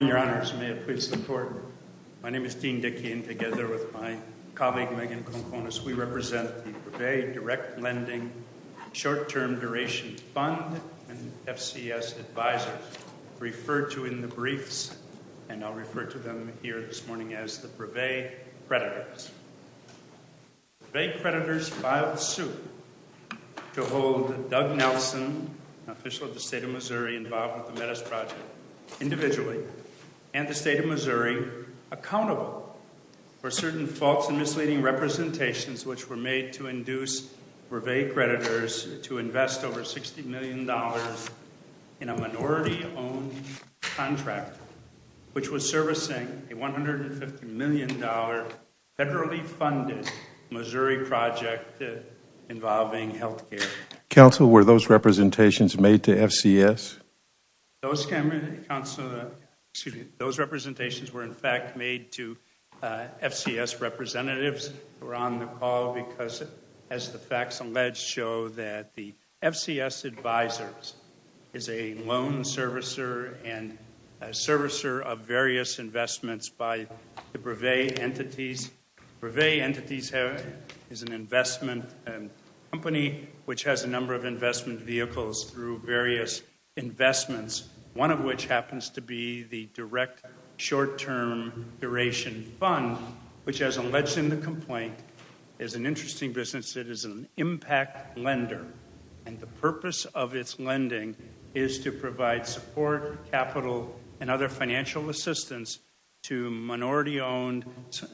My name is Dean Dickey, and together with my colleague Megan Konkonas, we represent the Brevet Direct Lending Short-Term Duration Fund and FCS Advisors, referred to in the briefs, and I'll refer to them here this morning as the Brevet Predators. The Brevet Predators filed suit to hold Doug Nelson, an official of the State of Missouri involved with the Metis Project, individually, and the State of Missouri accountable for certain false and misleading representations which were made to induce Brevet Predators to invest over $60 million in a minority-owned contract, which was servicing a $150 million federally funded Missouri project involving health care. Counsel, were those representations made to FCS? Those representations were, in fact, made to FCS representatives who were on the call because, as the facts allege, show that the FCS Advisors is a loan servicer and a servicer of various investments by the Brevet entities. Brevet entities is an investment company which has a number of investment vehicles through various investments, one of which happens to be the Direct Short-Term Duration Fund, which, as alleged in the complaint, is an interesting business. It is an impact lender, and the purpose of its lending is to provide support, capital, and other financial assistance to minority-owned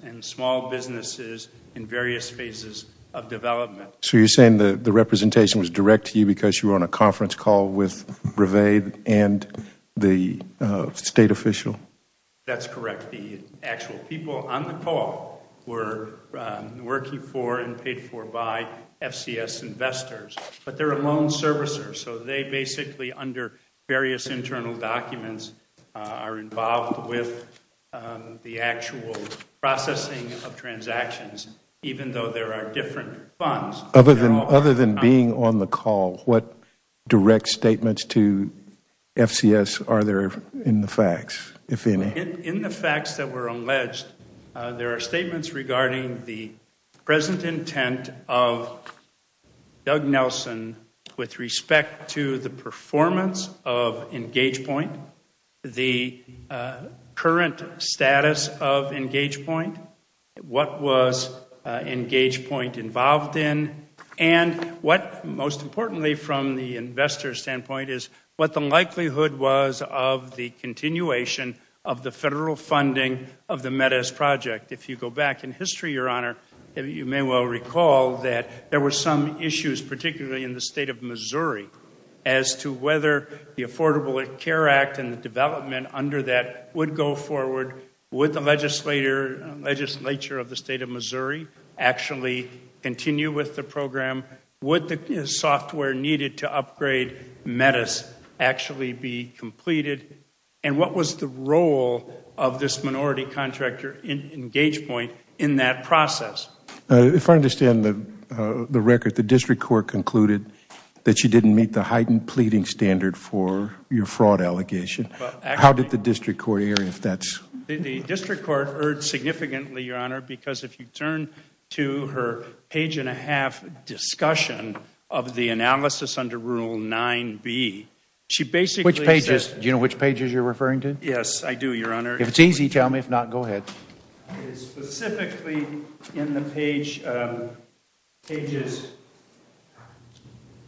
and small businesses in various phases of development. So you're saying the representation was direct to you because you were on a conference call with Brevet and the state official? That's correct. The actual people on the call were working for and paid for by FCS investors, but they're a loan servicer. So they basically, under various internal documents, are involved with the actual processing of transactions, even though there are different funds. Other than being on the call, what direct statements to FCS are there in the facts, if any? In the facts that were alleged, there are statements regarding the present intent of Doug Nelson with respect to the performance of EngagePoint, the current status of EngagePoint, what was EngagePoint involved in, and what, most importantly from the investor's standpoint, is what the likelihood was of the continuation of the federal funding of the MEDEZ project. If you go back in history, Your Honor, you may well recall that there were some issues, particularly in the state of Missouri, as to whether the Affordable Care Act and the development under that would go forward. Would the legislature of the state of Missouri actually continue with the program? Would the software needed to upgrade MEDEZ actually be completed? And what was the role of this minority contractor in EngagePoint in that process? If I understand the record, the district court concluded that you didn't meet the heightened pleading standard for your fraud allegation. How did the district court hear if that's... The district court heard significantly, Your Honor, because if you turn to her page and a half discussion of the analysis under Rule 9b, she basically said... Which pages? Do you know which pages you're referring to? Yes, I do, Your Honor. If it's easy, tell me. If not, go ahead. Specifically in the page... Pages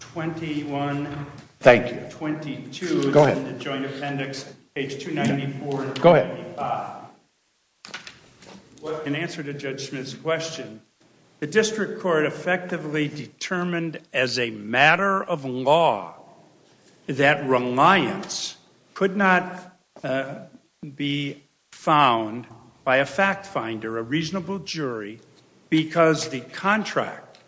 21... Thank you. 22... Go ahead. Go ahead. In answer to Judge Smith's question, the district court effectively determined as a matter of law that reliance could not be found by a fact finder, a reasonable jury, because the contract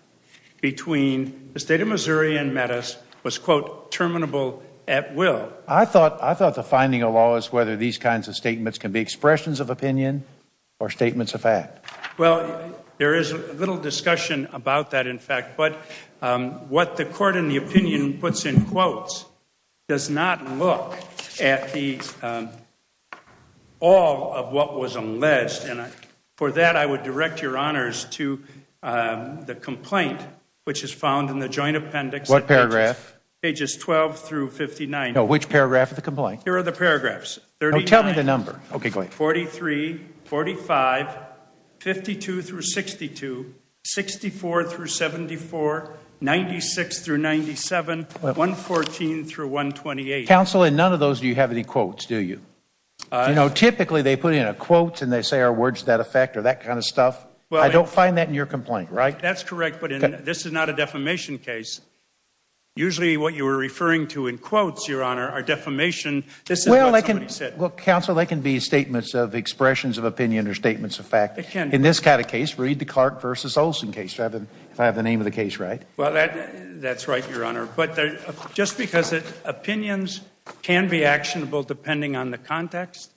between the state of Missouri and MEDEZ was, quote, terminable at will. I thought the finding of law is whether these kinds of statements can be expressions of opinion or statements of fact. Well, there is a little discussion about that, in fact. But what the court in the opinion puts in quotes does not look at all of what was unleashed. And for that, I would direct Your Honors to the complaint, which is found in the joint appendix... What paragraph? Pages 12 through 59. No, which paragraph of the complaint? Here are the paragraphs. No, tell me the number. Okay, go ahead. 43, 45, 52 through 62, 64 through 74, 96 through 97, 114 through 128. Counsel, in none of those do you have any quotes, do you? You know, typically they put in a quote and they say our words to that effect or that kind of stuff. I don't find that in your complaint, right? That's correct, but this is not a defamation case. Usually what you are referring to in quotes, Your Honor, are defamation. Well, Counsel, they can be statements of expressions of opinion or statements of fact. In this kind of case, read the Clark v. Olson case, if I have the name of the case right. Well, that's right, Your Honor. But just because opinions can be actionable depending on the context,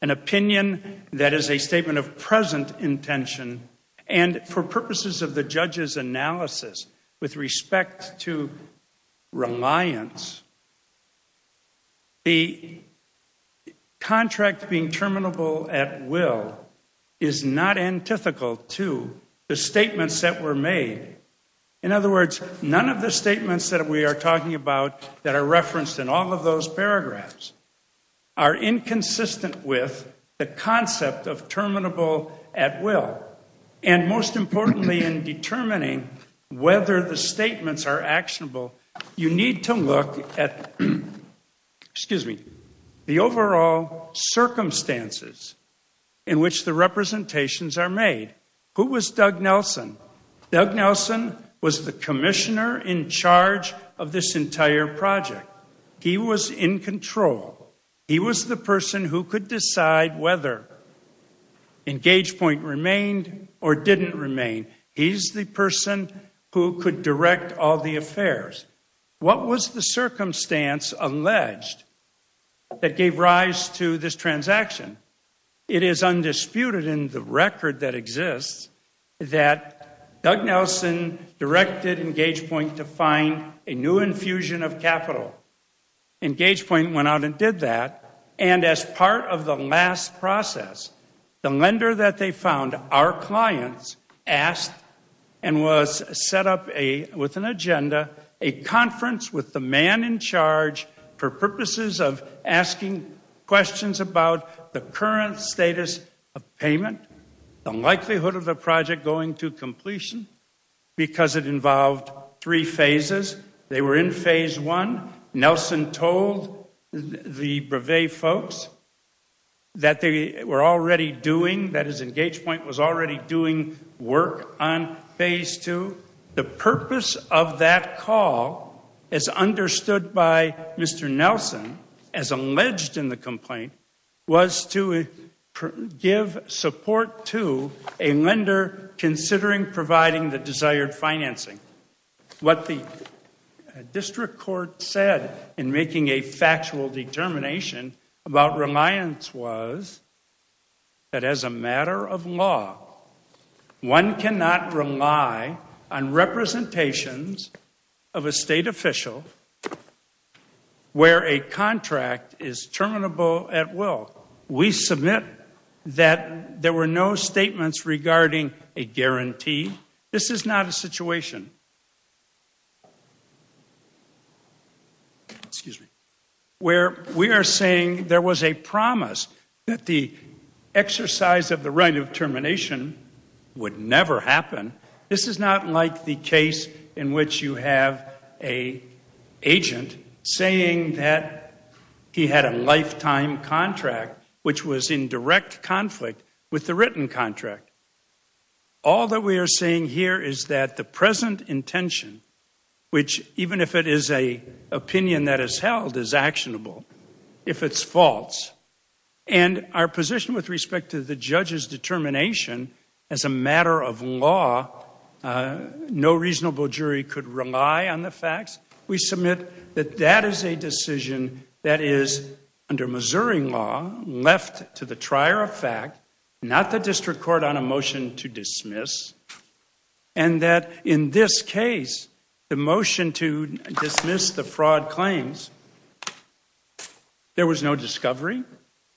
an opinion that is a statement of present intention, and for purposes of the judge's analysis with respect to reliance, the contract being terminable at will is not antithetical to the statements that were made. In other words, none of the statements that we are talking about that are referenced in all of those paragraphs are inconsistent with the concept of terminable at will. And most importantly in determining whether the statements are actionable, you need to look at the overall circumstances in which the representations are made. Who was Doug Nelson? Doug Nelson was the commissioner in charge of this entire project. He was in control. He was the person who could decide whether EngagePoint remained or didn't remain. He's the person who could direct all the affairs. What was the circumstance alleged that gave rise to this transaction? It is undisputed in the record that exists that Doug Nelson directed EngagePoint to find a new infusion of capital. EngagePoint went out and did that. And as part of the last process, the lender that they found, our clients, asked and was set up with an agenda a conference with the man in charge for purposes of asking questions about the current status of payment, the likelihood of the project going to completion because it involved three phases. They were in phase one. Nelson told the Brevet folks that they were already doing, that EngagePoint was already doing work on phase two. The purpose of that call, as understood by Mr. Nelson, as alleged in the complaint, was to give support to a lender considering providing the desired financing. What the district court said in making a factual determination about reliance was that as a matter of law, one cannot rely on representations of a state official where a contract is terminable at will. We submit that there were no statements regarding a guarantee. This is not a situation where we are saying there was a promise that the exercise of the right of termination would never happen. This is not like the case in which you have an agent saying that he had a lifetime contract which was in direct conflict with the written contract. All that we are saying here is that the present intention, which even if it is an opinion that is held, is actionable if it's false. Our position with respect to the judge's determination, as a matter of law, no reasonable jury could rely on the facts. We submit that that is a decision that is, under Missouri law, left to the trier of fact, not the district court, on a motion to dismiss. And that in this case, the motion to dismiss the fraud claims, there was no discovery.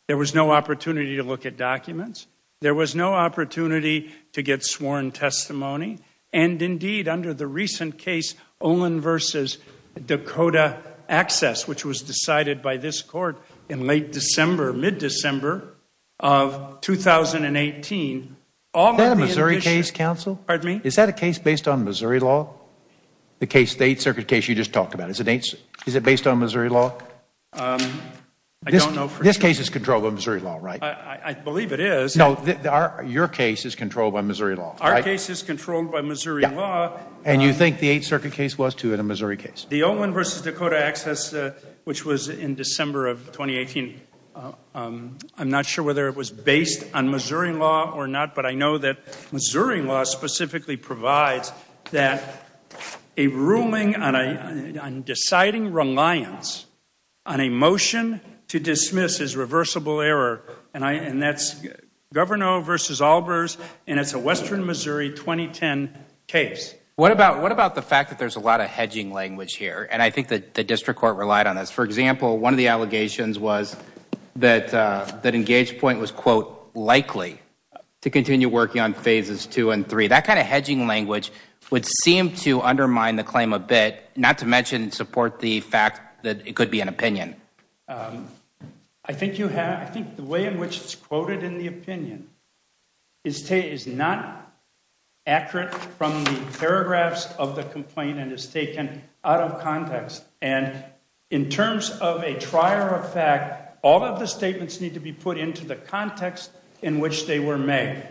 There was no opportunity to look at documents. There was no opportunity to get sworn testimony. And indeed, under the recent case, Olin v. Dakota Access, which was decided by this court in late December, mid-December of 2018, Is that a Missouri case, counsel? Pardon me? Is that a case based on Missouri law, the Eighth Circuit case you just talked about? Is it based on Missouri law? I don't know for sure. This case is controlled by Missouri law, right? I believe it is. No, your case is controlled by Missouri law, right? Our case is controlled by Missouri law. And you think the Eighth Circuit case was, too, a Missouri case? The Olin v. Dakota Access, which was in December of 2018, I'm not sure whether it was based on Missouri law or not, but I know that Missouri law specifically provides that a ruling on deciding reliance on a motion to dismiss is reversible error. And that's Governo v. Albers, and it's a Western Missouri 2010 case. What about the fact that there's a lot of hedging language here? And I think the district court relied on this. For example, one of the allegations was that Engage Point was, quote, likely to continue working on phases two and three. That kind of hedging language would seem to undermine the claim a bit, not to mention support the fact that it could be an opinion. I think the way in which it's quoted in the opinion is not accurate from the paragraphs of the complaint and is taken out of context. And in terms of a trier of fact, all of the statements need to be put into the context in which they were made.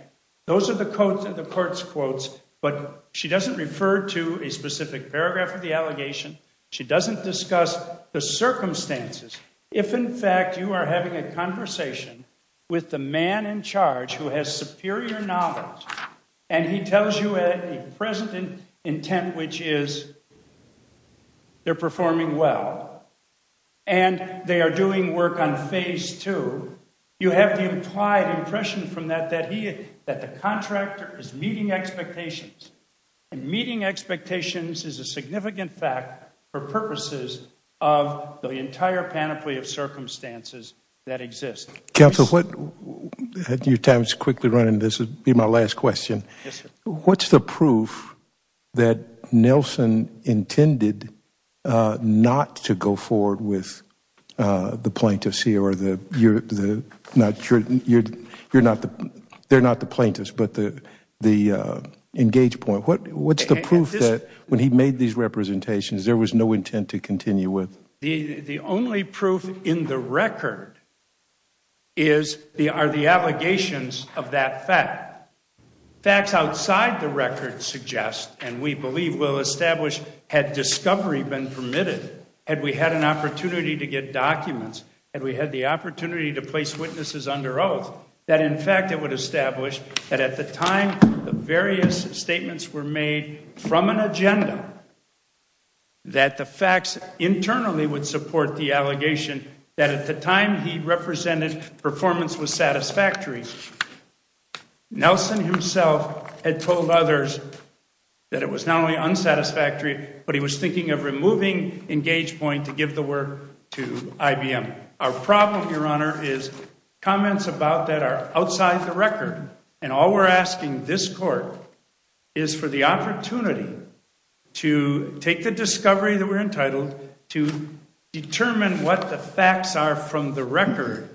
Those are the court's quotes, but she doesn't refer to a specific paragraph of the allegation. She doesn't discuss the circumstances. If, in fact, you are having a conversation with the man in charge who has superior knowledge and he tells you a present intent, which is they're performing well and they are doing work on phase two, you have the implied impression from that that the contractor is meeting expectations. And meeting expectations is a significant fact for purposes of the entire panoply of circumstances that exist. Counsel, your time is quickly running. This will be my last question. What's the proof that Nelson intended not to go forward with the plaintiffs here? They're not the plaintiffs, but the engage point. What's the proof that when he made these representations there was no intent to continue with? The only proof in the record are the allegations of that fact. Facts outside the record suggest, and we believe will establish, had discovery been permitted, had we had an opportunity to get documents, had we had the opportunity to place witnesses under oath, that in fact it would establish that at the time the various statements were made from an agenda, that the facts internally would support the allegation that at the time he represented performance was satisfactory. Nelson himself had told others that it was not only unsatisfactory, but he was thinking of removing engage point to give the work to IBM. Our problem, Your Honor, is comments about that are outside the record and all we're asking this court is for the opportunity to take the discovery that we're entitled to determine what the facts are from the record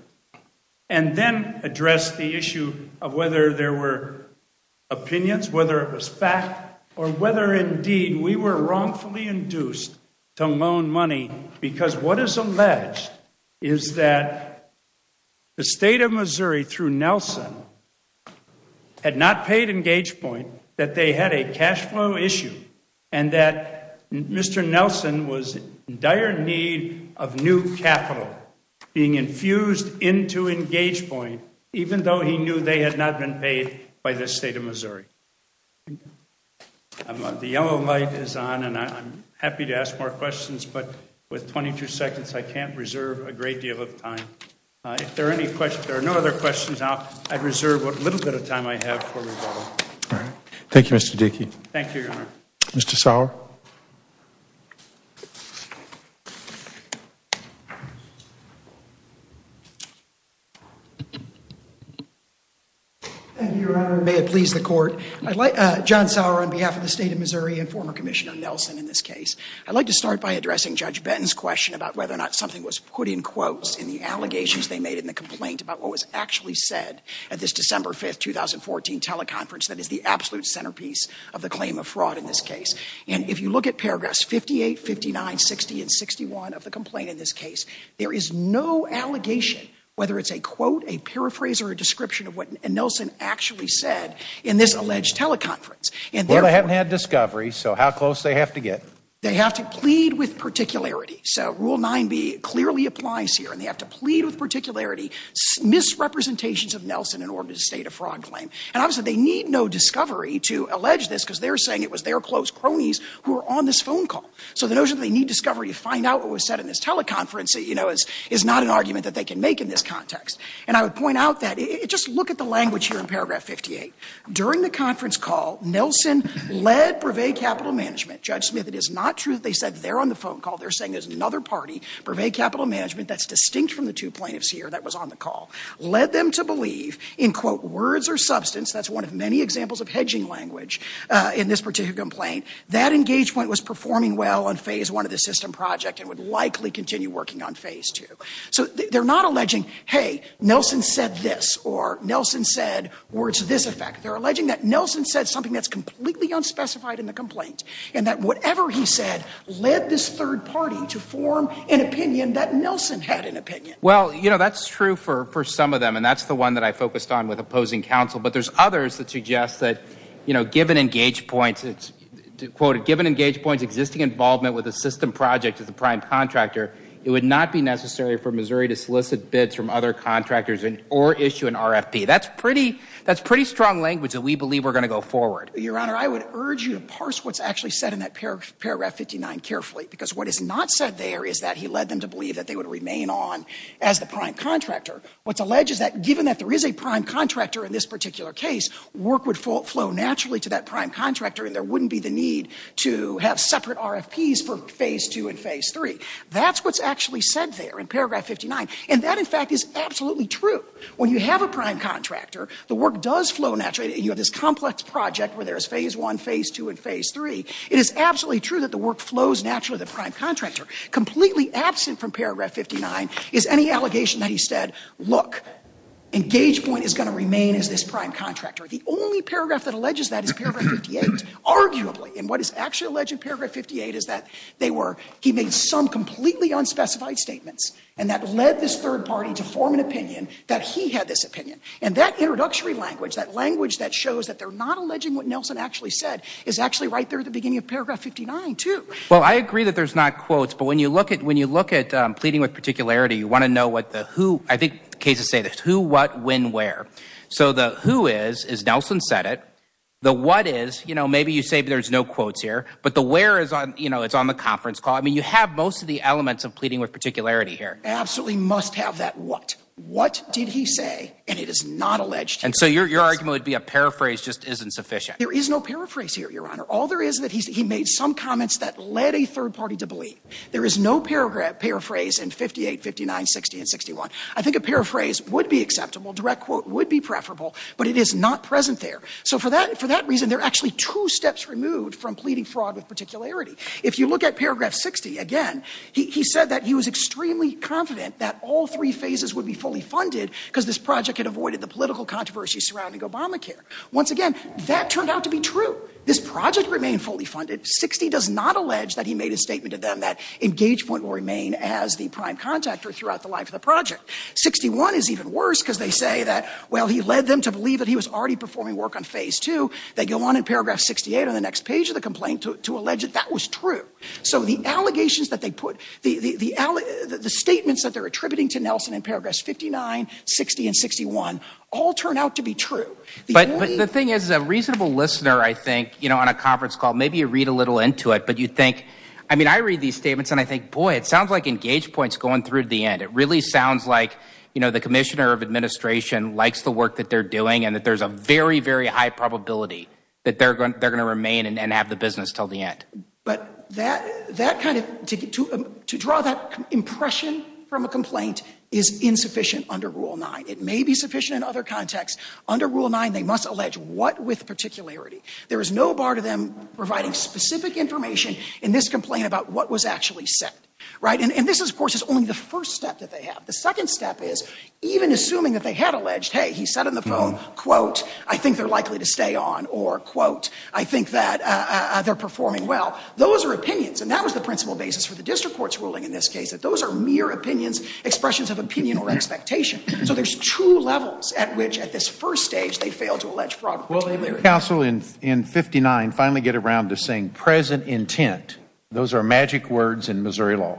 and then address the issue of whether there were opinions, whether it was fact, or whether indeed we were wrongfully induced to loan money because what is alleged is that the State of Missouri, through Nelson, had not paid engage point, that they had a cash flow issue, and that Mr. Nelson was in dire need of new capital being infused into engage point, even though he knew they had not been paid by the State of Missouri. The yellow light is on and I'm happy to ask more questions, but with 22 seconds I can't reserve a great deal of time. If there are no other questions, I'd reserve what little bit of time I have for rebuttal. Thank you, Mr. Dickey. Thank you, Your Honor. Mr. Sauer. Thank you, Your Honor. May it please the court. John Sauer on behalf of the State of Missouri and former Commissioner Nelson in this case. I'd like to start by addressing Judge Benton's question about whether or not something was put in quotes in the allegations they made in the complaint about what was actually said at this December 5th, 2014 teleconference that is the absolute centerpiece of the claim of fraud in this case. And if you look at period of time, paragraphs 58, 59, 60, and 61 of the complaint in this case, there is no allegation, whether it's a quote, a paraphrase, or a description of what Nelson actually said in this alleged teleconference. Well, they haven't had discovery, so how close do they have to get? They have to plead with particularity. So Rule 9b clearly applies here and they have to plead with particularity, misrepresentations of Nelson in order to state a fraud claim. And obviously they need no discovery to allege this because they're saying it was their close cronies who were on this phone call. So the notion that they need discovery to find out what was said in this teleconference, you know, is not an argument that they can make in this context. And I would point out that, just look at the language here in paragraph 58. During the conference call, Nelson led Brevet Capital Management. Judge Smith, it is not true that they said they're on the phone call. They're saying there's another party, Brevet Capital Management, that's distinct from the two plaintiffs here that was on the call, led them to believe in, quote, words or substance. That's one of many examples of hedging language in this particular complaint. That engage point was performing well on Phase 1 of the system project and would likely continue working on Phase 2. So they're not alleging, hey, Nelson said this or Nelson said words to this effect. They're alleging that Nelson said something that's completely unspecified in the complaint and that whatever he said led this third party to form an opinion that Nelson had an opinion. Well, you know, that's true for some of them and that's the one that I focused on with opposing counsel. But there's others that suggest that, you know, given engage points, it's, quote, given engage points existing involvement with the system project as a prime contractor, it would not be necessary for Missouri to solicit bids from other contractors or issue an RFP. That's pretty strong language that we believe we're going to go forward. Your Honor, I would urge you to parse what's actually said in that paragraph 59 carefully because what is not said there is that he led them to believe that they would remain on as the prime contractor. What's alleged is that given that there is a prime contractor in this particular case, work would flow naturally to that prime contractor and there wouldn't be the need to have separate RFPs for Phase 2 and Phase 3. That's what's actually said there in paragraph 59, and that, in fact, is absolutely true. When you have a prime contractor, the work does flow naturally and you have this complex project where there is Phase 1, Phase 2, and Phase 3. It is absolutely true that the work flows naturally to the prime contractor. Completely absent from paragraph 59 is any allegation that he said, look, Engage Point is going to remain as this prime contractor. The only paragraph that alleges that is paragraph 58, arguably. And what is actually alleged in paragraph 58 is that they were, he made some completely unspecified statements and that led this third party to form an opinion that he had this opinion. And that introductory language, that language that shows that they're not alleging what Nelson actually said, is actually right there at the beginning of paragraph 59, too. Well, I agree that there's not quotes, but when you look at pleading with particularity, you want to know what the who, I think the cases say this, who, what, when, where. So the who is, is Nelson said it. The what is, you know, maybe you say there's no quotes here, but the where is on, you know, it's on the conference call. I mean, you have most of the elements of pleading with particularity here. Absolutely must have that what. What did he say, and it is not alleged. And so your argument would be a paraphrase just isn't sufficient. There is no paraphrase here, Your Honor. All there is that he made some comments that led a third party to believe. There is no paraphrase in 58, 59, 60, and 61. I think a paraphrase would be acceptable. Direct quote would be preferable, but it is not present there. So for that reason, they're actually two steps removed from pleading fraud with particularity. If you look at paragraph 60, again, he said that he was extremely confident that all three phases would be fully funded because this project had avoided the political controversy surrounding Obamacare. Once again, that turned out to be true. This project remained fully funded. 60 does not allege that he made a statement to them that Engagepoint will remain as the prime contactor throughout the life of the project. 61 is even worse because they say that, well, he led them to believe that he was already performing work on phase 2. They go on in paragraph 68 on the next page of the complaint to allege that that was true. So the allegations that they put, the statements that they're attributing to Nelson in paragraphs 59, 60, and 61 all turn out to be true. But the thing is, a reasonable listener, I think, you know, on a conference call, maybe you read a little into it, but you think, I mean, I read these statements and I think, boy, it sounds like Engagepoint's going through to the end. It really sounds like, you know, the commissioner of administration likes the work that they're doing and that there's a very, very high probability that they're going to remain and have the business until the end. But that kind of, to draw that impression from a complaint is insufficient under Rule 9. It may be sufficient in other contexts. Under Rule 9, they must allege what with particularity. There is no bar to them providing specific information in this complaint about what was actually said, right? And this, of course, is only the first step that they have. The second step is, even assuming that they had alleged, hey, he said on the phone, quote, I think they're likely to stay on, or, quote, I think that they're performing well. Those are opinions, and that was the principal basis for the district court's ruling in this case, that those are mere opinions, expressions of opinion or expectation. So there's two levels at which, at this first stage, they fail to allege fraud with particularity. Will the council in 59 finally get around to saying present intent? Those are magic words in Missouri law.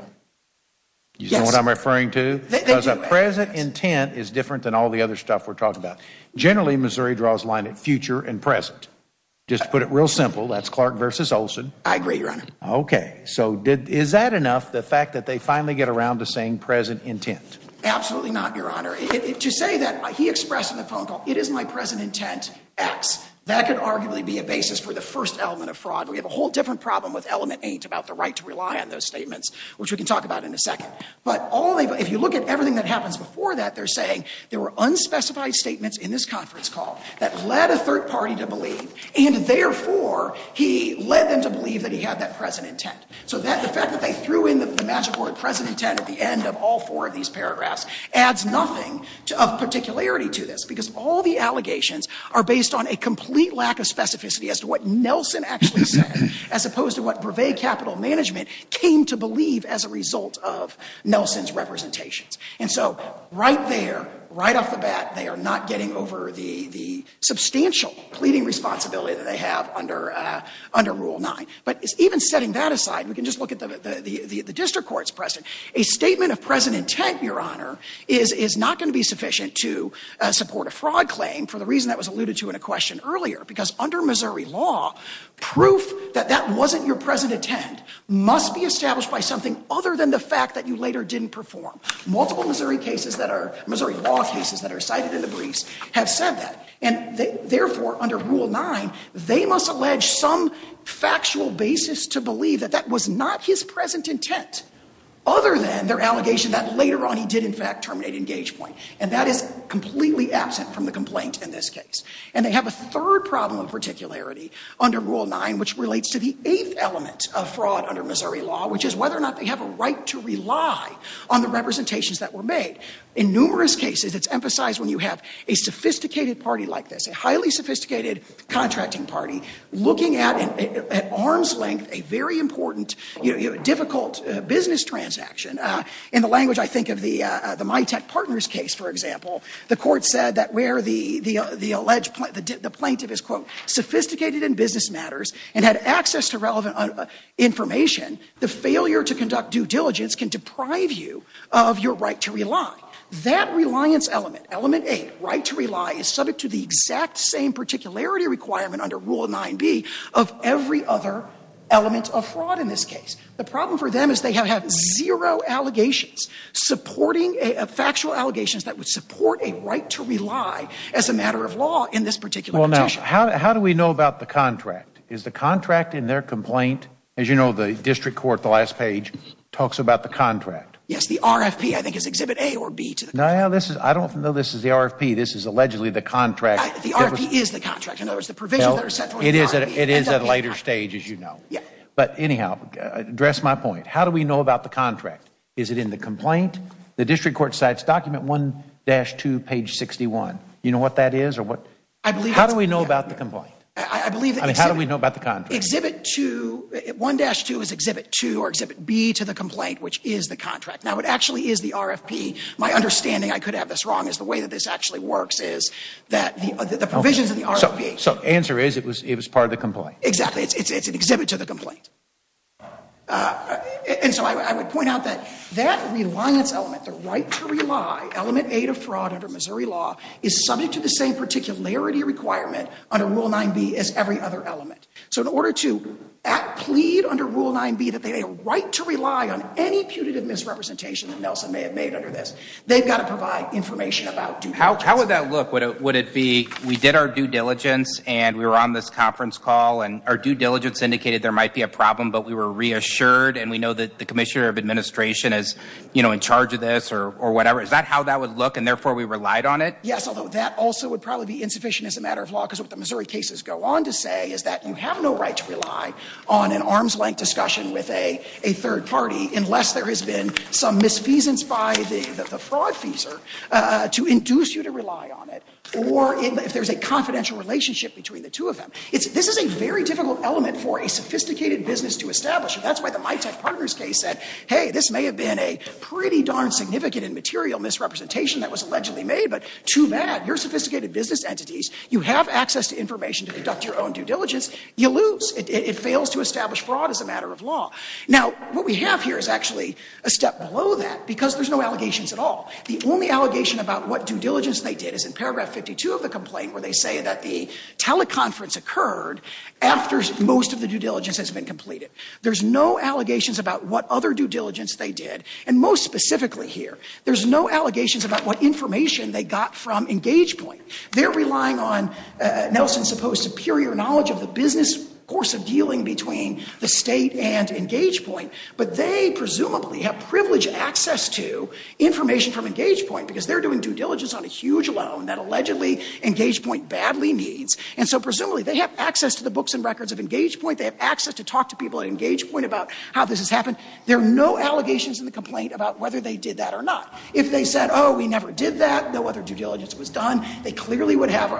Yes. You know what I'm referring to? They do. Because a present intent is different than all the other stuff we're talking about. Generally, Missouri draws a line at future and present. Just to put it real simple, that's Clark versus Olson. I agree, Your Honor. Okay. So is that enough, the fact that they finally get around to saying present intent? Absolutely not, Your Honor. To say that he expressed in the phone call, it is my present intent, X, that could arguably be a basis for the first element of fraud. We have a whole different problem with element ain't about the right to rely on those statements, which we can talk about in a second. But if you look at everything that happens before that, they're saying there were unspecified statements in this conference call that led a third party to believe, and, therefore, he led them to believe that he had that present intent. So the fact that they threw in the magic word present intent at the end of all four of these paragraphs adds nothing of particularity to this, because all the allegations are based on a complete lack of specificity as to what Nelson actually said, as opposed to what Brevet Capital Management came to believe as a result of Nelson's representations. And so right there, right off the bat, they are not getting over the substantial pleading responsibility that they have under Rule 9. But even setting that aside, we can just look at the district court's precedent. A statement of present intent, Your Honor, is not going to be sufficient to support a fraud claim for the reason that was alluded to in a question earlier, because under Missouri law, proof that that wasn't your present intent must be established by something other than the fact that you later didn't perform. Multiple Missouri cases that are – Missouri law cases that are cited in the briefs have said that. And therefore, under Rule 9, they must allege some factual basis to believe that that was not his present intent, other than their allegation that later on he did, in fact, terminate engage point. And that is completely absent from the complaint in this case. And they have a third problem of particularity under Rule 9, which relates to the eighth element of fraud under Missouri law, which is whether or not they have a right to rely on the representations that were made. In numerous cases, it's emphasized when you have a sophisticated party like this, a highly sophisticated contracting party looking at, at arm's length, a very important, difficult business transaction. In the language, I think, of the MyTech Partners case, for example, the court said that where the alleged – the plaintiff is, quote, sophisticated in business matters and had access to relevant information, the failure to conduct due diligence can deprive you of your right to rely. That reliance element, element eight, right to rely, is subject to the exact same particularity requirement under Rule 9b of every other element of fraud in this case. The problem for them is they have had zero allegations supporting – factual allegations that would support a right to rely as a matter of law in this particular petition. Well, now, how do we know about the contract? Is the contract in their complaint? As you know, the district court, the last page, talks about the contract. Yes, the RFP, I think, is Exhibit A or B. No, this is – I don't know if this is the RFP. This is allegedly the contract. The RFP is the contract. In other words, the provisions that are set for the RFP. It is at a later stage, as you know. But anyhow, address my point. How do we know about the contract? Is it in the complaint? The district court cites document 1-2, page 61. You know what that is or what – I believe – How do we know about the complaint? I believe – I mean, how do we know about the contract? Exhibit 2 – 1-2 is Exhibit 2 or Exhibit B to the complaint, which is the contract. Now, it actually is the RFP. My understanding – I could have this wrong – is the way that this actually works is that the provisions of the RFP – So, answer is it was part of the complaint. Exactly. It's an exhibit to the complaint. And so I would point out that that reliance element, the right to rely, element A to fraud under Missouri law, is subject to the same particularity requirement under Rule 9b as every other element. So, in order to plead under Rule 9b that they have a right to rely on any putative misrepresentation that Nelson may have made under this, they've got to provide information about due diligence. How would that look? Would it be we did our due diligence and we were on this conference call and our due diligence indicated there might be a problem, but we were reassured and we know that the commissioner of administration is, you know, in charge of this or whatever. Is that how that would look and therefore we relied on it? Yes, although that also would probably be insufficient as a matter of law, because what the Missouri cases go on to say is that you have no right to rely on an arm's length discussion with a third party unless there has been some misfeasance by the fraud feeser to induce you to rely on it or if there's a confidential relationship between the two of them. This is a very difficult element for a sophisticated business to establish, and that's why the MyTech Partners case said, hey, this may have been a pretty darn significant and material misrepresentation that was allegedly made, but too bad. You're sophisticated business entities. You have access to information to conduct your own due diligence. You lose. It fails to establish fraud as a matter of law. Now, what we have here is actually a step below that because there's no allegations at all. The only allegation about what due diligence they did is in paragraph 52 of the complaint where they say that the teleconference occurred after most of the due diligence has been completed. There's no allegations about what other due diligence they did, and most specifically here, there's no allegations about what information they got from EngagePoint. They're relying on Nelson's supposed superior knowledge of the business course of dealing between the state and EngagePoint, but they presumably have privileged access to information from EngagePoint because they're doing due diligence on a huge loan that allegedly EngagePoint badly needs, and so presumably they have access to the books and records of EngagePoint. They have access to talk to people at EngagePoint about how this has happened. There are no allegations in the complaint about whether they did that or not. If they said, oh, we never did that, no other due diligence was done, they clearly would have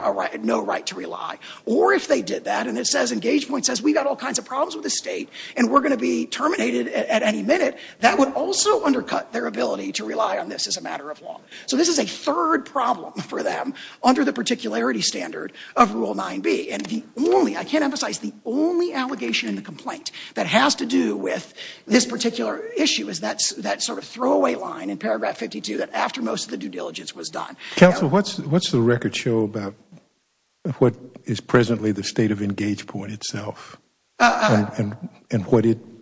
no right to rely. Or if they did that and EngagePoint says we've got all kinds of problems with the state and we're going to be terminated at any minute, that would also undercut their ability to rely on this as a matter of law. So this is a third problem for them under the particularity standard of Rule 9b. I can't emphasize the only allegation in the complaint that has to do with this particular issue is that sort of throwaway line in paragraph 52 that after most of the due diligence was done. Counsel, what's the record show about what is presently the state of EngagePoint itself and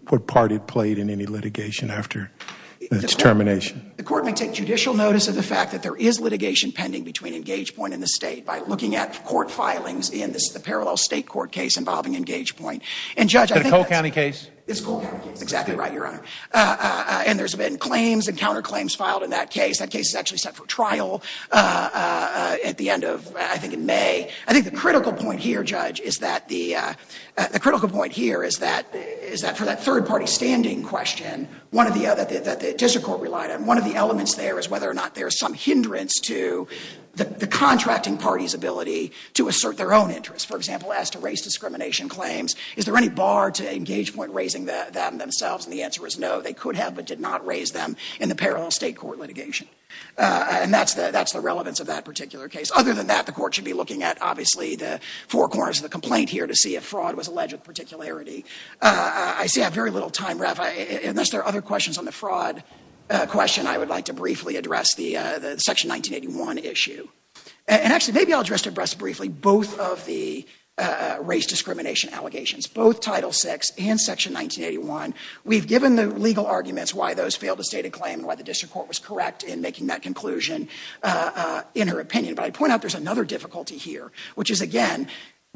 what part it played in any litigation after its termination? The court may take judicial notice of the fact that there is litigation pending between EngagePoint and the state by looking at court filings in the parallel state court case involving EngagePoint. Is that a Cole County case? It's a Cole County case, exactly right, Your Honor. And there's been claims and counterclaims filed in that case. That case is actually set for trial at the end of, I think, in May. I think the critical point here, Judge, is that the critical point here is that for that third-party standing question that the district court relied on, one of the elements there is whether or not there is some hindrance to the contracting party's ability to assert their own interests. For example, as to race discrimination claims, is there any bar to EngagePoint raising that themselves? And the answer is no. They could have but did not raise them in the parallel state court litigation. And that's the relevance of that particular case. Other than that, the court should be looking at, obviously, the four corners of the complaint here to see if fraud was alleged with particularity. I see I have very little time left. Unless there are other questions on the fraud question, I would like to briefly address the Section 1981 issue. And actually, maybe I'll address it briefly, both of the race discrimination allegations, both Title VI and Section 1981. We've given the legal arguments why those failed to state a claim and why the district court was correct in making that conclusion in her opinion. But I point out there's another difficulty here, which is, again,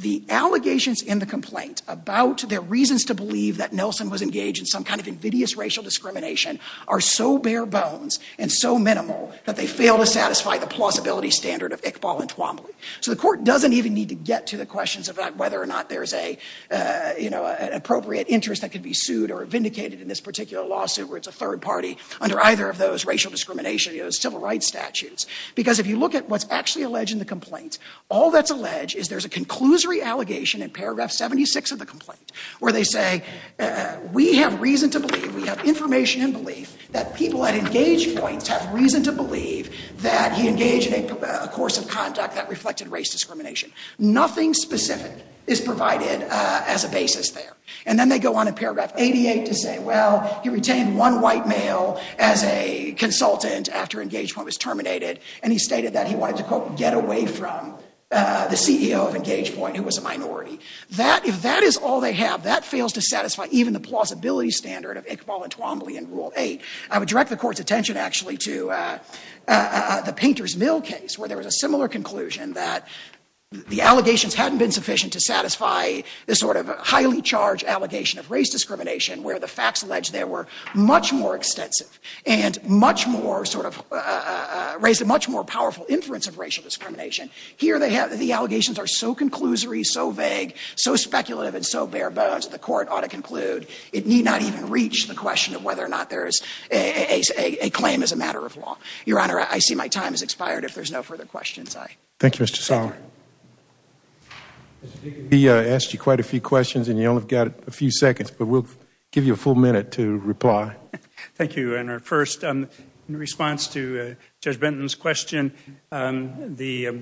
the allegations in the complaint about their reasons to believe that Nelson was engaged in some kind of invidious racial discrimination are so bare bones and so minimal that they fail to satisfy the plausibility standard of Iqbal and Twombly. So the court doesn't even need to get to the questions about whether or not there's an appropriate interest that could be sued or vindicated in this particular lawsuit where it's a third party under either of those racial discrimination civil rights statutes. Because if you look at what's actually alleged in the complaint, all that's alleged is there's a conclusory allegation in paragraph 76 of the complaint where they say, we have reason to believe, we have information and belief that people at engage points have reason to believe that he engaged in a course of conduct that reflected race discrimination. Nothing specific is provided as a basis there. And then they go on in paragraph 88 to say, well, he retained one white male as a consultant after engage point was terminated and he stated that he wanted to, quote, get away from the CEO of engage point who was a minority. That, if that is all they have, that fails to satisfy even the plausibility standard of Iqbal and Twombly in rule eight. I would direct the court's attention actually to the Painter's Mill case where there was a similar conclusion that the allegations hadn't been sufficient to satisfy this sort of highly charged allegation of race discrimination where the facts alleged there were much more extensive and much more sort of, raised a much more powerful inference of racial discrimination. Here they have, the allegations are so conclusory, so vague, so speculative and so bare bones, the court ought to conclude it need not even reach the question of whether or not there is a claim as a matter of law. Your Honor, I see my time has expired. If there's no further questions, I. Thank you, Mr. Sauer. Mr. Dickey, we asked you quite a few questions and you only got a few seconds, but we'll give you a full minute to reply. Thank you, Your Honor. First, in response to Judge Benton's question, the,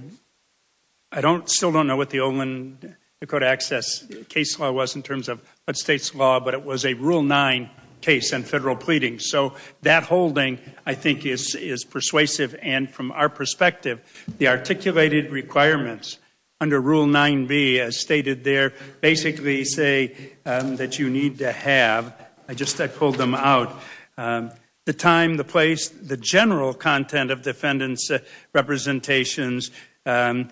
I don't, still don't know what the Olin Dakota Access case law was in terms of state's law, but it was a rule nine case and federal pleading. So that holding, I think, is persuasive and from our perspective, the articulated requirements under Rule 9B, as stated there, basically say that you need to have, I just, I pulled them out, the time, the place, the general content of defendant's representations, a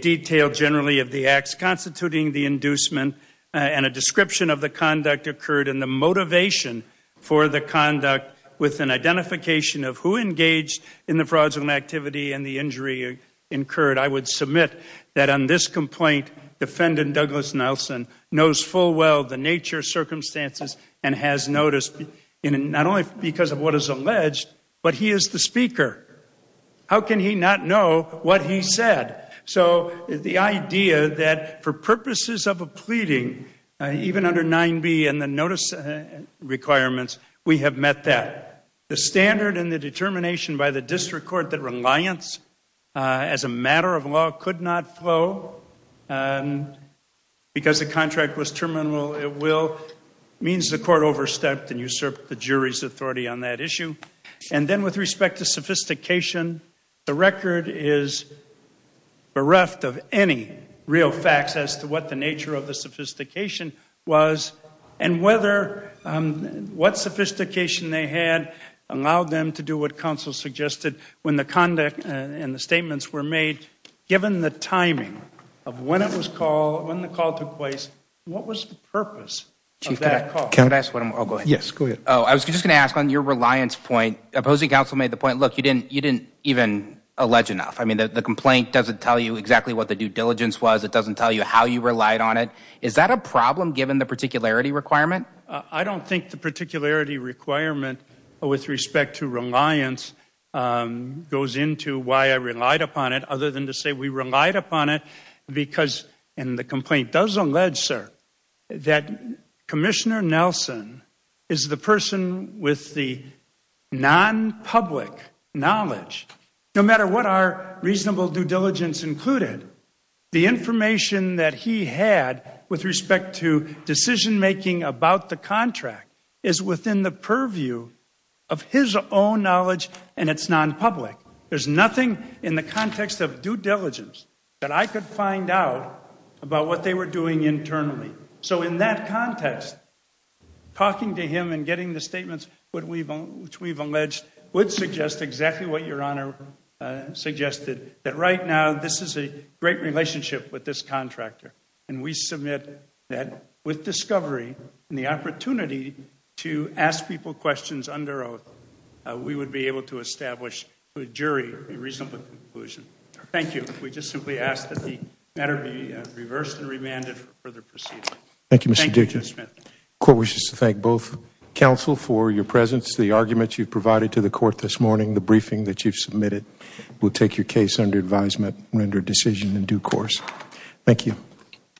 detail generally of the acts constituting the inducement and a description of the conduct occurred and the motivation for the conduct with an identification of who engaged in the fraudulent activity and the injury incurred. I would submit that on this complaint, defendant Douglas Nelson knows full well the nature of circumstances and has noticed not only because of what is alleged, but he is the speaker. How can he not know what he said? So the idea that for purposes of a pleading, even under 9B and the notice requirements, we have met that. The standard and the determination by the district court that reliance as a matter of law could not flow because the contract was terminal at will means the court overstepped and usurped the jury's authority on that issue. And then with respect to sophistication, the record is bereft of any real facts as to what the nature of the sophistication was and what sophistication they had allowed them to do what counsel suggested when the conduct and the statements were made. Given the timing of when it was called, when the call took place, what was the purpose of that call? I was just going to ask on your reliance point, opposing counsel made the point, look, you didn't even allege enough. I mean, the complaint doesn't tell you exactly what the due diligence was. It doesn't tell you how you relied on it. Is that a problem given the particularity requirement? I don't think the particularity requirement with respect to reliance goes into why I relied upon it other than to say we relied upon it because, and the complaint does allege, sir, that Commissioner Nelson is the person with the non-public knowledge. No matter what our reasonable due diligence included, the information that he had with respect to decision-making about the contract is within the purview of his own knowledge, and it's non-public. There's nothing in the context of due diligence that I could find out about what they were doing internally. So in that context, talking to him and getting the statements which we've alleged would suggest exactly what Your Honor suggested, that right now this is a great relationship with this contractor, and we submit that with discovery and the opportunity to ask people questions under oath, we would be able to establish to a jury a reasonable conclusion. Thank you. We just simply ask that the matter be reversed and remanded for further proceedings. Thank you, Mr. Duchess. The court wishes to thank both counsel for your presence. The arguments you've provided to the court this morning, the briefing that you've submitted will take your case under advisement, render a decision in due course. Thank you.